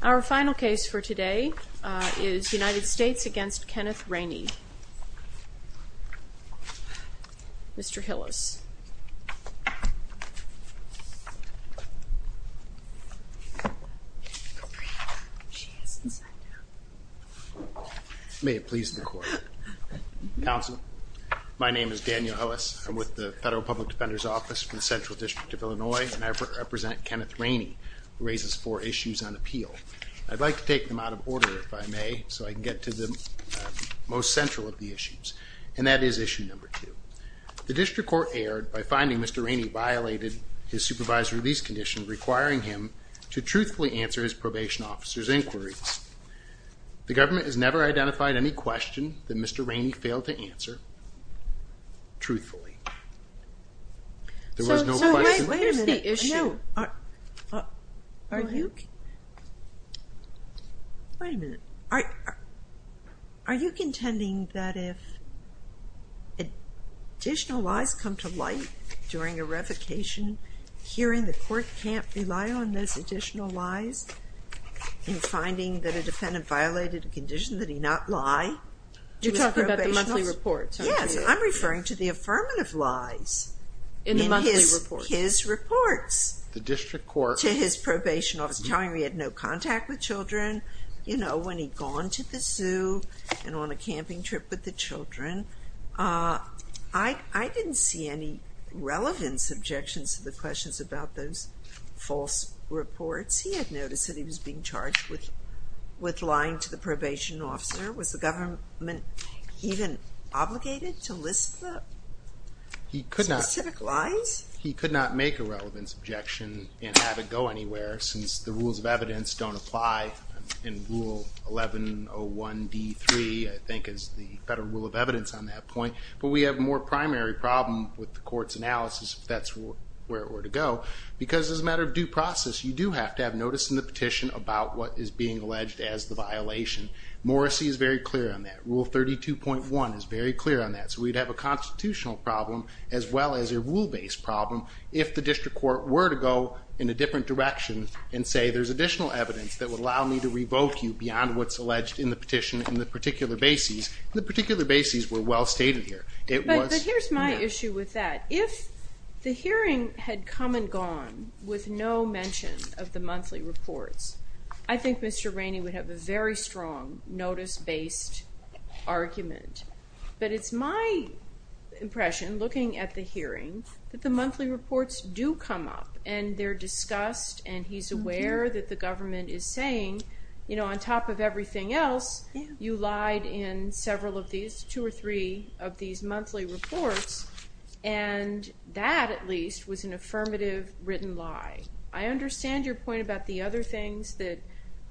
Our final case for today is United States v. Kenneth Raney. Mr. Hillis May it please the court. Counsel, my name is Daniel Hillis. I'm with the Federal Public Defender's Office from the Central District of Illinois and I represent Kenneth Raney who raises four issues on appeal. I'd like to take them out of order if I may so I can get to the most central of the issues and that is issue number two. The district court erred by finding Mr. Raney violated his supervised release condition requiring him to truthfully answer his probation officer's inquiries. The government has never identified any question that Mr. Raney failed to answer truthfully. There was no question. Wait a minute. Are you contending that if additional lies come to light during a revocation hearing the court can't rely on those additional lies in finding that a defendant violated a condition that he not lie? You're talking about the monthly reports. Yes, I'm referring to the affirmative lies in the monthly reports. His reports. The district court. To his probation officer telling him he had no contact with children, you know, when he'd gone to the zoo and on a camping trip with the children. I didn't see any relevant subjections to the questions about those false reports. He had noticed that he was being charged with lying to the probation officer. Was the government even obligated to list the specific lies? He could not make a relevance objection and have it go anywhere since the rules of evidence don't apply in Rule 1101D3, I think is the Federal Rule of Evidence on that point, but we have a more primary problem with the court's analysis if that's where it were to go because as a matter of due process you do have to have notice in the petition about what is being alleged as the violation. Morrissey is very clear on that. Rule 32.1 is very clear on that. So we'd have a constitutional problem as well as a rule-based problem if the district court were to go in a different direction and say there's additional evidence that would allow me to revoke you beyond what's alleged in the petition in the particular bases. The particular bases were well stated here. But here's my issue with that. If the very strong notice-based argument. But it's my impression, looking at the hearing, that the monthly reports do come up and they're discussed and he's aware that the government is saying, you know, on top of everything else, you lied in several of these, two or three of these monthly reports and that at least was an affirmative written lie. I understand your point about the other things that,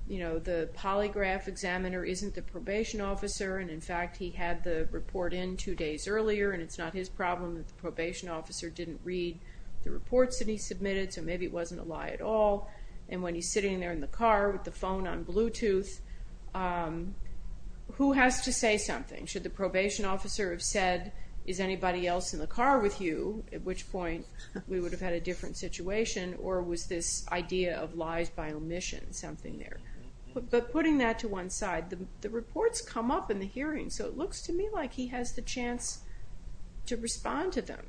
you know, the polygraph examiner isn't the probation officer and, in fact, he had the report in two days earlier and it's not his problem that the probation officer didn't read the reports that he submitted so maybe it wasn't a lie at all. And when he's sitting there in the car with the phone on Bluetooth, who has to say something? Should the probation officer have said is anybody else in the car with you? At which point we would have had a different situation or was this idea of lies by omission something there. But putting that to one side, the reports come up in the hearing so it looks to me like he has the chance to respond to them.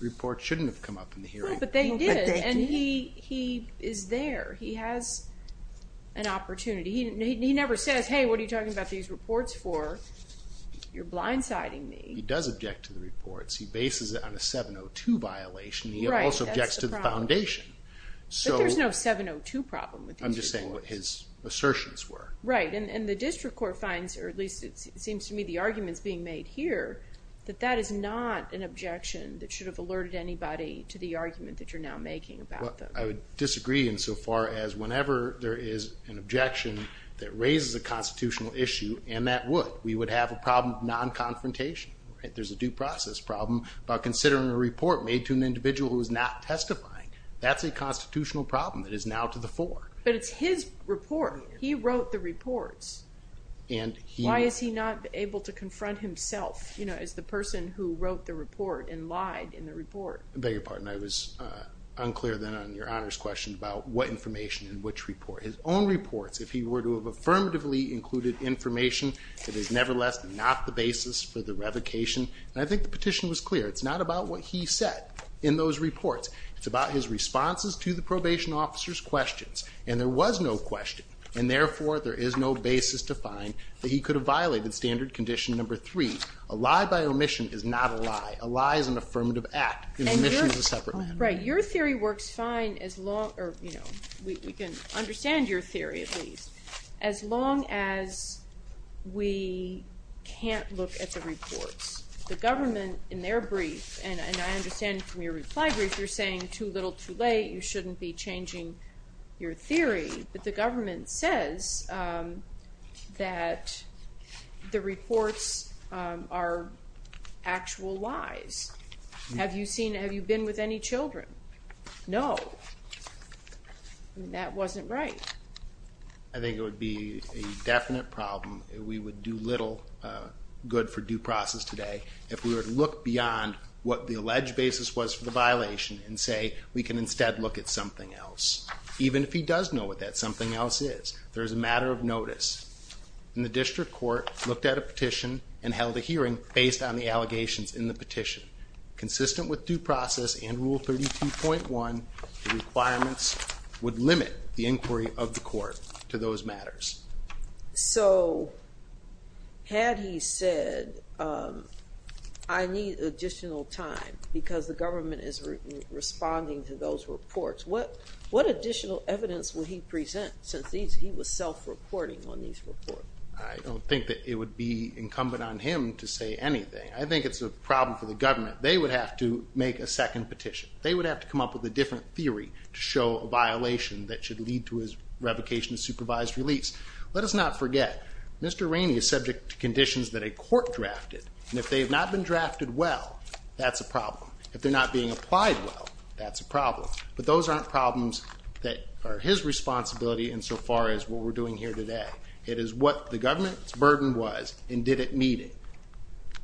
Reports shouldn't have come up in the hearing. But they did and he is there. He has an opportunity. He never says, hey, what are you talking about these reports for? You're blindsiding me. He does object to the reports. He bases it on a 702 violation. He also objects to the foundation. But there's no 702 problem with these reports. I'm just saying what his assertions were. Right, and the district court finds, or at least it seems to me the arguments being made here, that that is not an objection that should have alerted anybody to the argument that you're now making about them. I would disagree insofar as whenever there is an objection that raises a constitutional issue, and that would, we would have a problem of non-confrontation. There's a due process problem about considering a report made to an individual who is not testifying. That's a constitutional problem that is now to the fore. But it's his report. He wrote the reports. Why is he not able to confront himself as the person who wrote the report and lied in the report? I beg your pardon, I was unclear then on your Honor's question about what information and which report. His own reports, if he were to have affirmatively included information, it is nevertheless not the basis for the revocation. And I think the petition was clear. It's not about what he said in those reports. It's about his responses to the probation officer's questions. And there was no question. And therefore, there is no basis to find that he could have violated standard condition number three. A lie by omission is not a lie. A lie is an affirmative act. An omission is a lie. We can understand your theory, at least, as long as we can't look at the reports. The government, in their brief, and I understand from your reply brief, you're saying too little, too late. You shouldn't be changing your theory. But the government says that the reports are actual lies. Have you seen, have you been with any children? No. That wasn't right. I think it would be a definite problem. We would do little good for due process today if we were to look beyond what the alleged basis was for the violation and say, we can instead look at something else. Even if he does know what that something else is. There at a petition and held a hearing based on the allegations in the petition. Consistent with due process and rule 32.1, the requirements would limit the inquiry of the court to those matters. So, had he said, I need additional time because the government is responding to those reports, what additional evidence would he present since he was self-reporting on these reports? I don't think that it would be incumbent on him to say anything. I think it's a problem for the government. They would have to make a second petition. They would have to come up with a different theory to show a violation that should lead to his revocation of supervised release. Let us not forget, Mr. Rainey is subject to conditions that a court drafted. And if they have not been drafted well, that's a problem. If they're not being applied well, that's a problem. But those aren't problems that are his responsibility insofar as what we're doing here today. It is what the government's burden was and did it need it.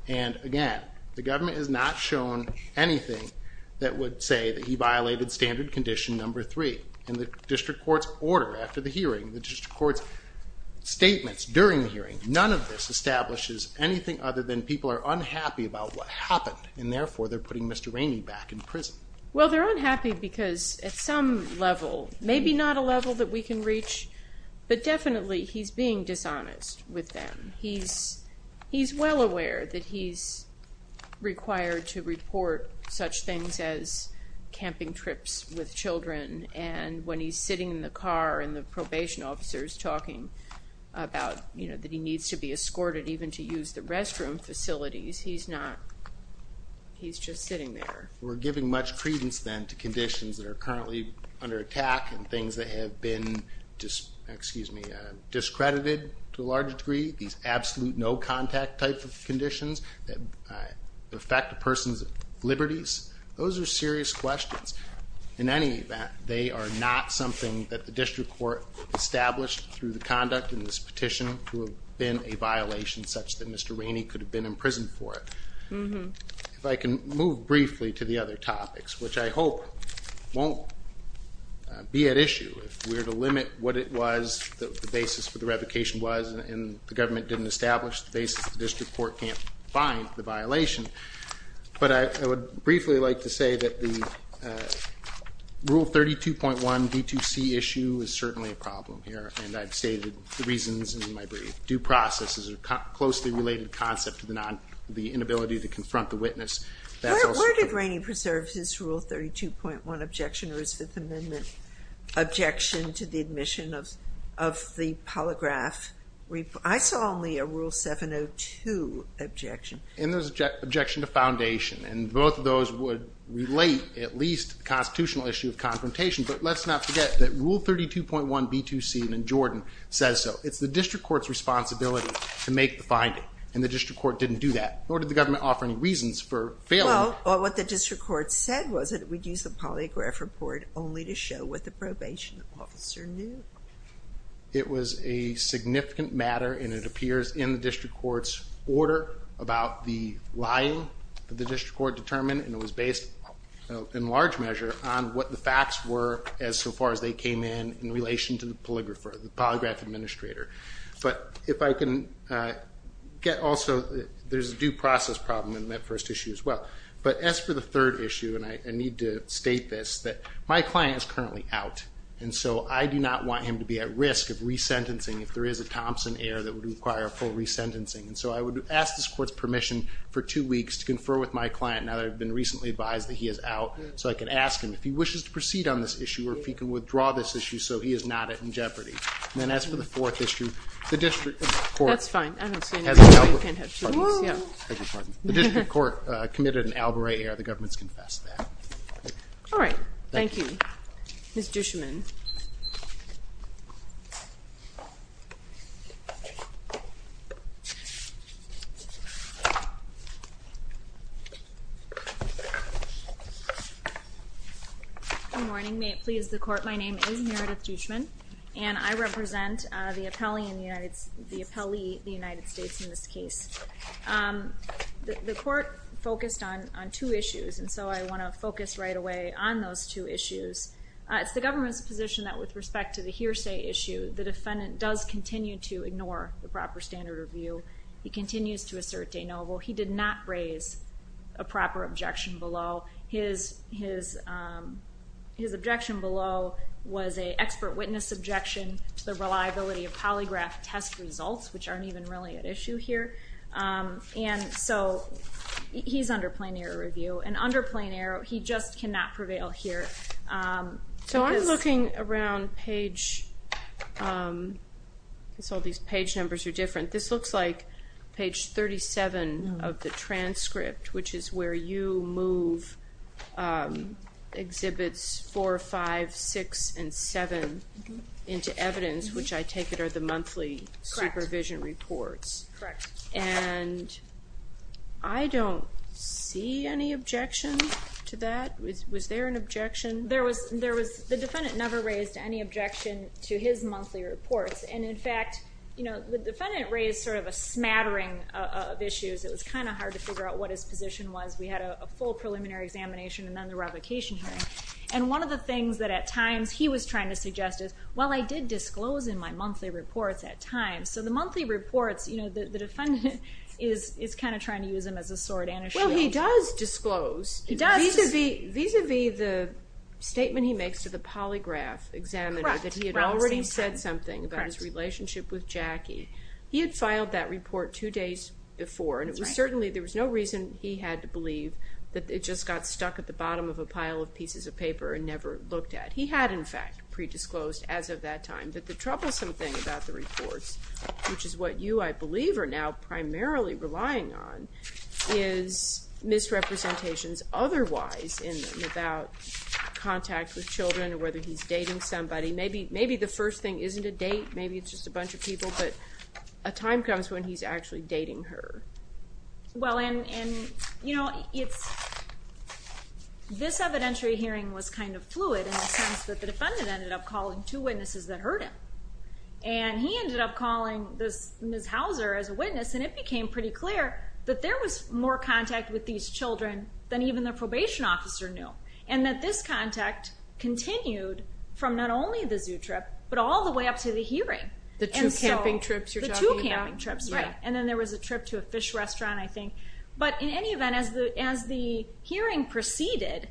And again, the government has not shown anything that would say that he violated standard condition number three. In the district court's order after the hearing, the district court's statements during the hearing, none of this establishes anything other than people are unhappy about what happened and therefore they're putting Mr. Rainey back in prison. Well, they're unhappy because at some level, maybe not a level that we can reach, but definitely he's being dishonest with them. He's well aware that he's required to report such things as camping trips with children and when he's sitting in the car and the probation officer is talking about, you know, that he needs to be escorted even to use the restroom facilities, he's not, he's just sitting there. We're giving much discredited to a large degree, these absolute no contact type of conditions that affect a person's liberties. Those are serious questions. In any event, they are not something that the district court established through the conduct in this petition to have been a violation such that Mr. Rainey could have been in prison for it. If I can move briefly to the other basis for the revocation was and the government didn't establish the basis of the district court can't find the violation, but I would briefly like to say that the rule 32.1 D2C issue is certainly a problem here and I've stated the reasons in my brief. Due process is a closely related concept to the inability to confront the witness. Where did Rainey preserve his rule 32.1 objection or his Fifth Amendment objection to the admission of the polygraph? I saw only a rule 702 objection. And there's an objection to foundation and both of those would relate at least to the constitutional issue of confrontation, but let's not forget that rule 32.1 B2C in Jordan says so. It's the district court's responsibility to make the finding and the district court didn't do that nor did the government offer any reasons for failing. Well, what the district court said was that we'd use the polygraph report only to show what the probation officer knew. It was a significant matter and it appears in the district court's order about the lying that the district court determined and it was based in large measure on what the facts were as so far as they came in in relation to the polygrapher, the polygraph administrator. But if I can get also, there's a due process problem in that first issue as well. But as for the third issue, and I need to state this, that my client is currently out and so I do not want him to be at risk of resentencing if there is a Thompson error that would require a full resentencing. And so I would ask this court's permission for two weeks to confer with my client now that I've been recently advised that he is out so I can ask him if he wishes to proceed on this issue or if he can withdraw this issue so he is not in jeopardy. And then as for the fourth issue, the district That's fine. I don't see any reason why you can't have two weeks. The district court committed an Albury error. The government's confessed that. All right. Thank you, Ms. Juschman. Good morning. May it please the court, my name is Meredith Juschman and I represent the appellee in the United States in this case. The court focused on two issues and so I want to focus right away on those two issues. It's the government's position that with respect to the hearsay issue, the defendant does continue to ignore the proper standard of view. He continues to assert de novo. He did not raise a proper objection below. His objection below was an expert witness objection to the reliability of polygraph test results, which aren't even really an issue here. And so he's under plain error review. And under plain error, he just cannot prevail here. So I'm looking around page, because all these page numbers are different. This looks like page 37 of the transcript, which is where you move exhibits 4, 5, 6, and 7 into evidence, which I take it are the monthly supervision reports. Correct. And I don't see any objection to that. Was there an objection? The defendant never raised any objection to his monthly reports. And in fact, the defendant raised sort of a smattering of issues. It was kind of hard to figure out what his position was. We had a full preliminary examination and then the revocation hearing. And one of the things that at times he was trying to suggest is, well, I did disclose in my monthly reports at times. So the monthly reports, the defendant is kind of trying to use them as a sword and a shield. Well, he does disclose. He does. Vis-a-vis the statement he makes to the polygraph examiner that he had already said something about his relationship with Jackie. He had filed that report two days before. And it was certainly, there was no reason he had to believe that it just got stuck at the bottom of a pile of pieces of paper and never looked at. He had, in fact, predisclosed as of that time. But the troublesome thing about the reports, which is what you, I believe, are now primarily relying on, is misrepresentations otherwise in them about contact with children or whether he's dating somebody. Maybe the first thing isn't a date. Maybe it's just a bunch of people. But a time comes when he's actually dating her. Well, and this evidentiary hearing was kind of fluid in the sense that the defendant ended up calling two witnesses that heard him. And he ended up calling Ms. Hauser as a witness and it became pretty clear that there was more contact with these children than even the probation officer knew. And that this contact continued from not only the zoo trip but all the way up to the hearing. The two camping trips you're talking about. Camping trips, right. And then there was a trip to a fish restaurant, I think. But in any event, as the hearing proceeded,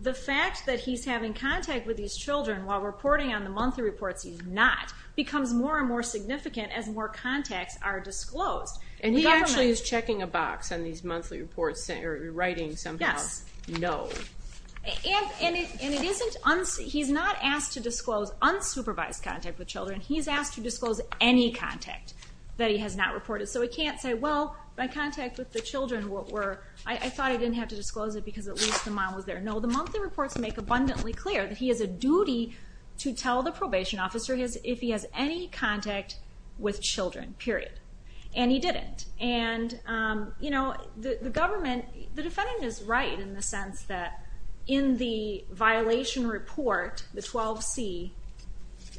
the fact that he's having contact with these children while reporting on the monthly reports he's not becomes more and more significant as more contacts are disclosed. And he actually is checking a box on these monthly reports or writing somehow, no. Yes. And it isn't, he's not asked to disclose unsupervised contact with children. He's asked to disclose any contact that he has not reported. So he can't say, well, my contact with the children were, I thought I didn't have to disclose it because at least the mom was there. No, the monthly reports make abundantly clear that he has a duty to tell the probation officer if he has any contact with children, period. And he didn't. And the government, the defendant is right in the sense that in the violation report, the 12C,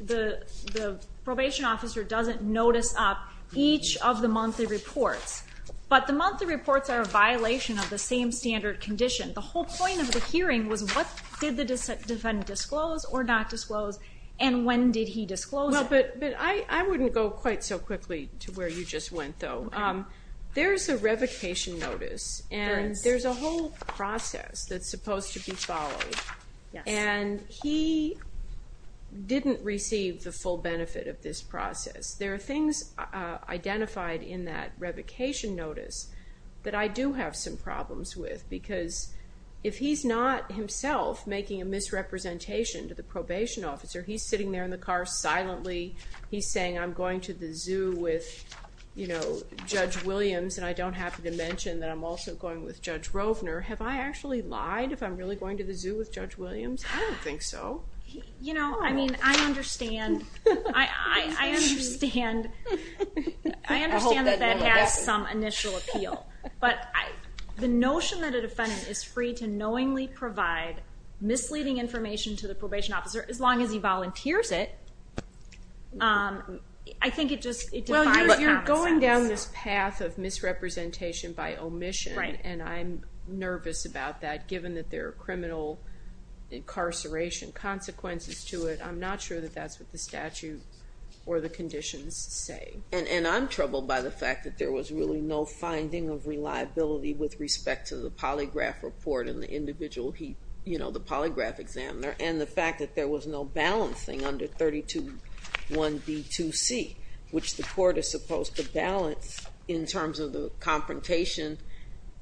the probation officer doesn't notice up each of the monthly reports. But the monthly reports are a violation of the same standard condition. The whole point of the hearing was what did the defendant disclose or not disclose, and when did he disclose it? But I wouldn't go quite so quickly to where you just went, though. There's a revocation notice, and there's a whole process that's supposed to be followed. And he didn't receive the full benefit of this process. There are things identified in that revocation notice that I do have some problems with because if he's not himself making a misrepresentation to the probation officer, he's sitting there in the car silently, he's saying I'm going to the zoo with, you know, Judge Williams, and I don't have to mention that I'm also going with Judge Rovner. Have I actually lied if I'm really going to the zoo with Judge Williams? I don't think so. You know, I mean, I understand. I understand that that has some initial appeal. But the notion that a defendant is free to knowingly provide misleading information to the probation officer as long as he volunteers it, I think it just defies common sense. Well, you're going down this path of misrepresentation by omission, and I'm nervous about that given that there are criminal incarceration consequences to it. I'm not sure that that's what the statute or the conditions say. And I'm troubled by the fact that there was really no finding of reliability with respect to the polygraph report and the individual, you know, the polygraph examiner, and the fact that there was no balancing under 321B2C, which the court is supposed to balance in terms of the confrontation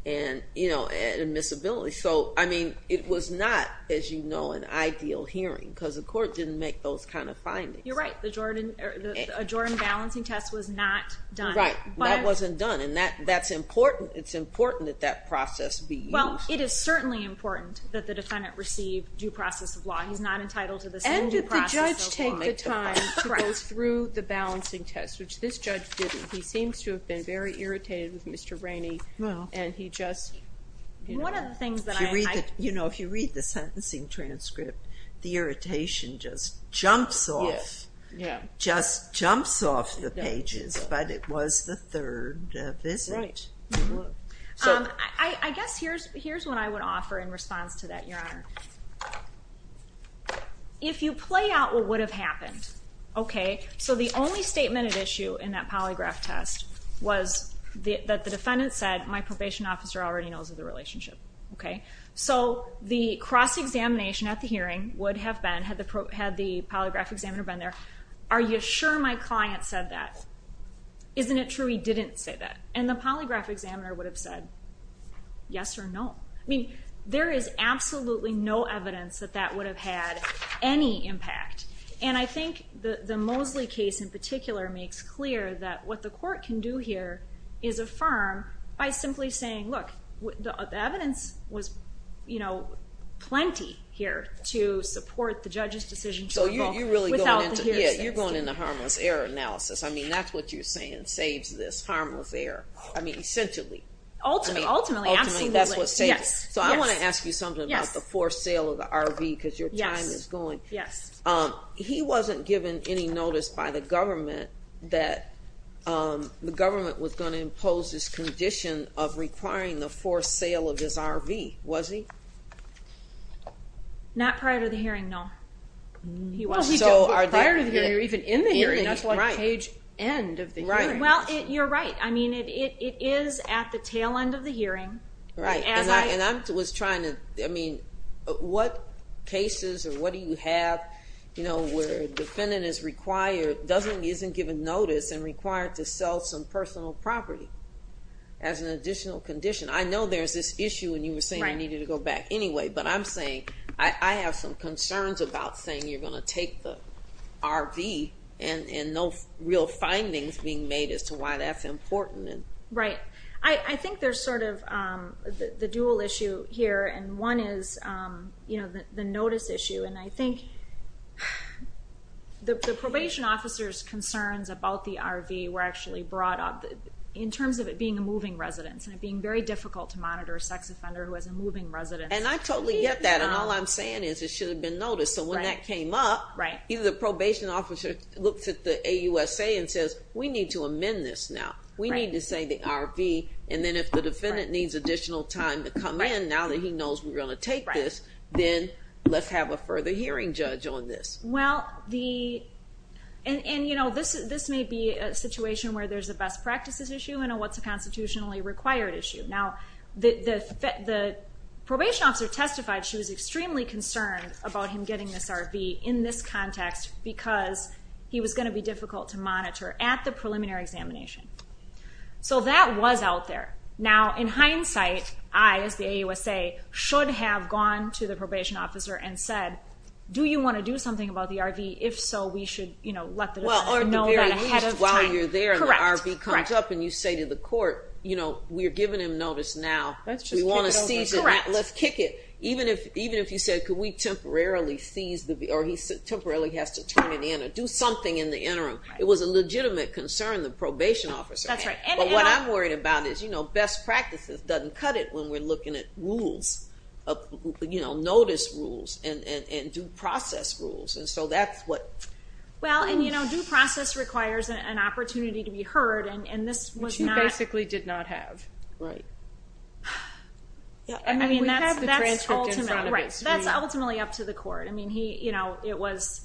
and, you know, admissibility. So, I mean, it was not, as you know, an ideal hearing because the court didn't make those kind of findings. You're right. The Jordan balancing test was not done. Right. That wasn't done, and that's important. It's important that that process be used. Well, it is certainly important that the defendant receive due process of law. He's not entitled to the same due process of law. And did the judge take the time to go through the balancing test, which this judge didn't. He seems to have been very irritated with Mr. Rainey, and he just, you know... One of the things that I... You know, if you read the sentencing Right. I guess here's what I would offer in response to that, Your Honor. If you play out what would have happened, okay? So the only statement at issue in that polygraph test was that the defendant said, my probation officer already knows of the relationship. Okay? So the cross-examination at the hearing would have been, had the polygraph examiner been there, are you sure my client said that? Isn't it true he didn't say that? And the polygraph examiner would have said, yes or no. I mean, there is absolutely no evidence that that would have had any impact. And I think the Mosley case in particular makes clear that what the court can do here is affirm by simply saying, look, the evidence was, you know, plenty here to support the judge's decision to... So you're really going into... Yeah, you're going into harmless error analysis. I mean, that's what you're saying, saves this harmless error. I mean, essentially. Ultimately, absolutely. Ultimately, that's what saves it. Yes. So I want to ask you something about the forced sale of the RV because your time is going. Yes. He wasn't given any notice by the government that the government was going to impose this Not prior to the hearing, no. Well, prior to the hearing or even in the hearing, that's like page end of the hearing. Right. Well, you're right. I mean, it is at the tail end of the hearing. Right. And I was trying to, I mean, what cases or what do you have, you know, where a defendant is required, doesn't, isn't given notice and required to sell some personal property as an additional condition? I know there's this issue and you were saying you needed to go back anyway, but I'm saying, I have some concerns about saying you're going to take the RV and no real findings being made as to why that's important. Right. I think there's sort of the dual issue here. And one is, you know, the notice issue. And I think the probation officer's concerns about the RV were actually brought up in terms of it being a moving residence and it being very difficult to move from residence. And I totally get that. And all I'm saying is it should have been noticed. So when that came up, either the probation officer looks at the AUSA and says, we need to amend this now. We need to say the RV. And then if the defendant needs additional time to come in, now that he knows we're going to take this, then let's have a further hearing judge on this. Well, the, and, and, you know, this, this may be a situation where there's a best practices issue and a what's a constitutionally required issue. Now the, the, the probation officer testified, she was extremely concerned about him getting this RV in this context because he was going to be difficult to monitor at the preliminary examination. So that was out there. Now, in hindsight, I, as the AUSA, should have gone to the probation officer and said, do you want to do something about the RV? If so, we should, you know, let the RV comes up and you say to the court, you know, we're giving him notice now, we want to seize it, let's kick it. Even if, even if you said, could we temporarily seize the RV or he temporarily has to turn it in or do something in the interim. It was a legitimate concern, the probation officer. But what I'm worried about is, you know, best practices doesn't cut it when we're looking at rules of, you know, notice rules and, and, and due process rules. And so that's what. Well, and you know, due process requires an opportunity to be heard. And this was not... She basically did not have. Right. I mean, that's ultimately up to the court. I mean, he, you know, it was...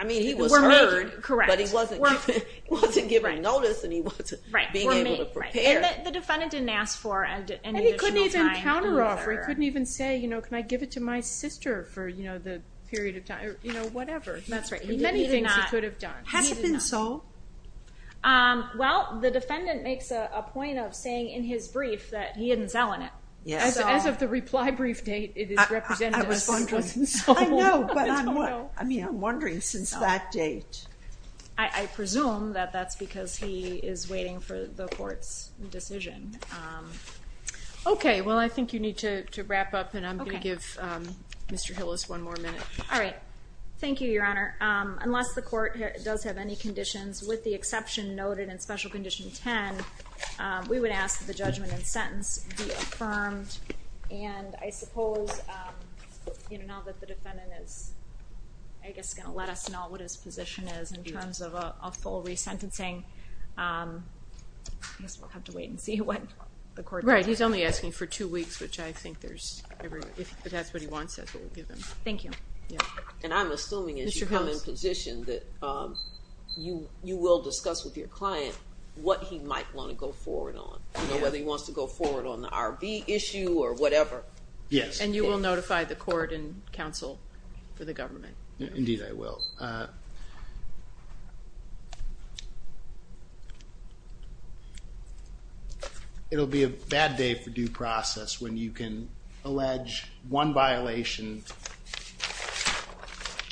I mean, he was heard, but he wasn't given notice and he wasn't being able to prepare. The defendant didn't ask for any additional time. And he couldn't even counter offer. He couldn't even say, you know, can I give it to my sister for, you know, the period of time, you know, whatever. That's right. He did many things he could have done. Has it been sold? Well, the defendant makes a point of saying in his brief that he hadn't selling it. As of the reply brief date, it is represented as it wasn't sold. I know, but I mean, I'm wondering since that date. I presume that that's because he is waiting for the court's decision. Okay. Well, I think you need to wrap up and I'm going to give Mr. Hillis one more minute. All right. Thank you, Your Honor. Unless the court does have any conditions with the exception noted in Special Condition 10, we would ask that the judgment and sentence be affirmed. And I suppose, you know, now that the defendant is, I guess, going to let us know what his position is in terms of a full resentencing. I guess we'll have to wait and see what the court decides. Right. He's only asking for two weeks, which I think there's every, if that's what he wants, that's what we'll give him. Thank you. And I'm assuming as you come in position that you will discuss with your client what he might want to go forward on. You know, whether he wants to go forward on the RV issue or whatever. Yes. And you will notify the court and counsel for the government. Indeed, I will. It will be a bad day for due process when you can allege one violation,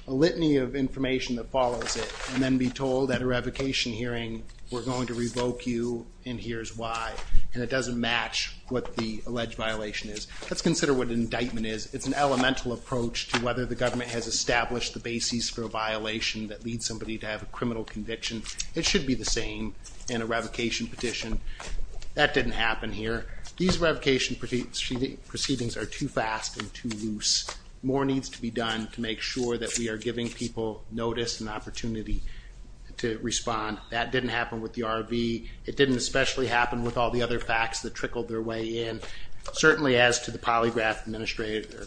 a litany of information that follows it, and then be told at a revocation hearing, we're going to revoke you and here's why. And it doesn't match what the alleged violation is. Let's consider what an indictment is. It's an elemental approach to whether the government has established the basis for a violation that leads somebody to have a criminal conviction. It should be the same in a revocation petition. That didn't happen here. These revocation proceedings are too fast and too loose. More needs to be done to make sure that we are giving people notice and opportunity to respond. That didn't happen with the RV. It didn't especially happen with all the other facts that trickled their way in, certainly as to the polygraph administrator.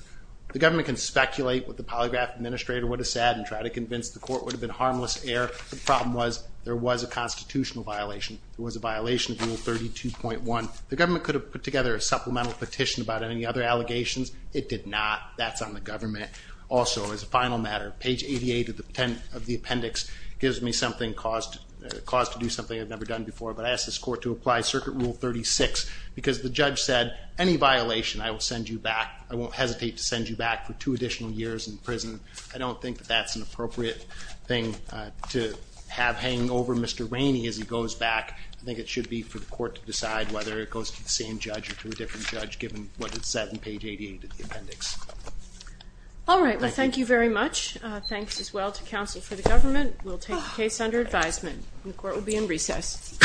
The government can speculate what the polygraph administrator would have said and try to convince the court it would have been harmless error. The problem was there was a constitutional violation. It was a violation of Rule 32.1. The government could have put together a supplemental petition about any other allegations. It did not. That's on the government. Also, as a final matter, page 88 of the appendix gives me something caused to do something I've never done before, but I ask this court to apply Circuit Rule 36 because the judge said, any violation I will send you back. I won't hesitate to send you back for two additional years in prison. I don't think that that's an appropriate thing to have hanging over Mr. Rainey as he goes back. I think it should be for the court to decide whether it goes to the same judge or to a different judge given what is said in page 88 of the appendix. All right. Well, thank you very much. Thanks as well to counsel for the government. We'll take the case under advisement. The court will be in recess. Thank you.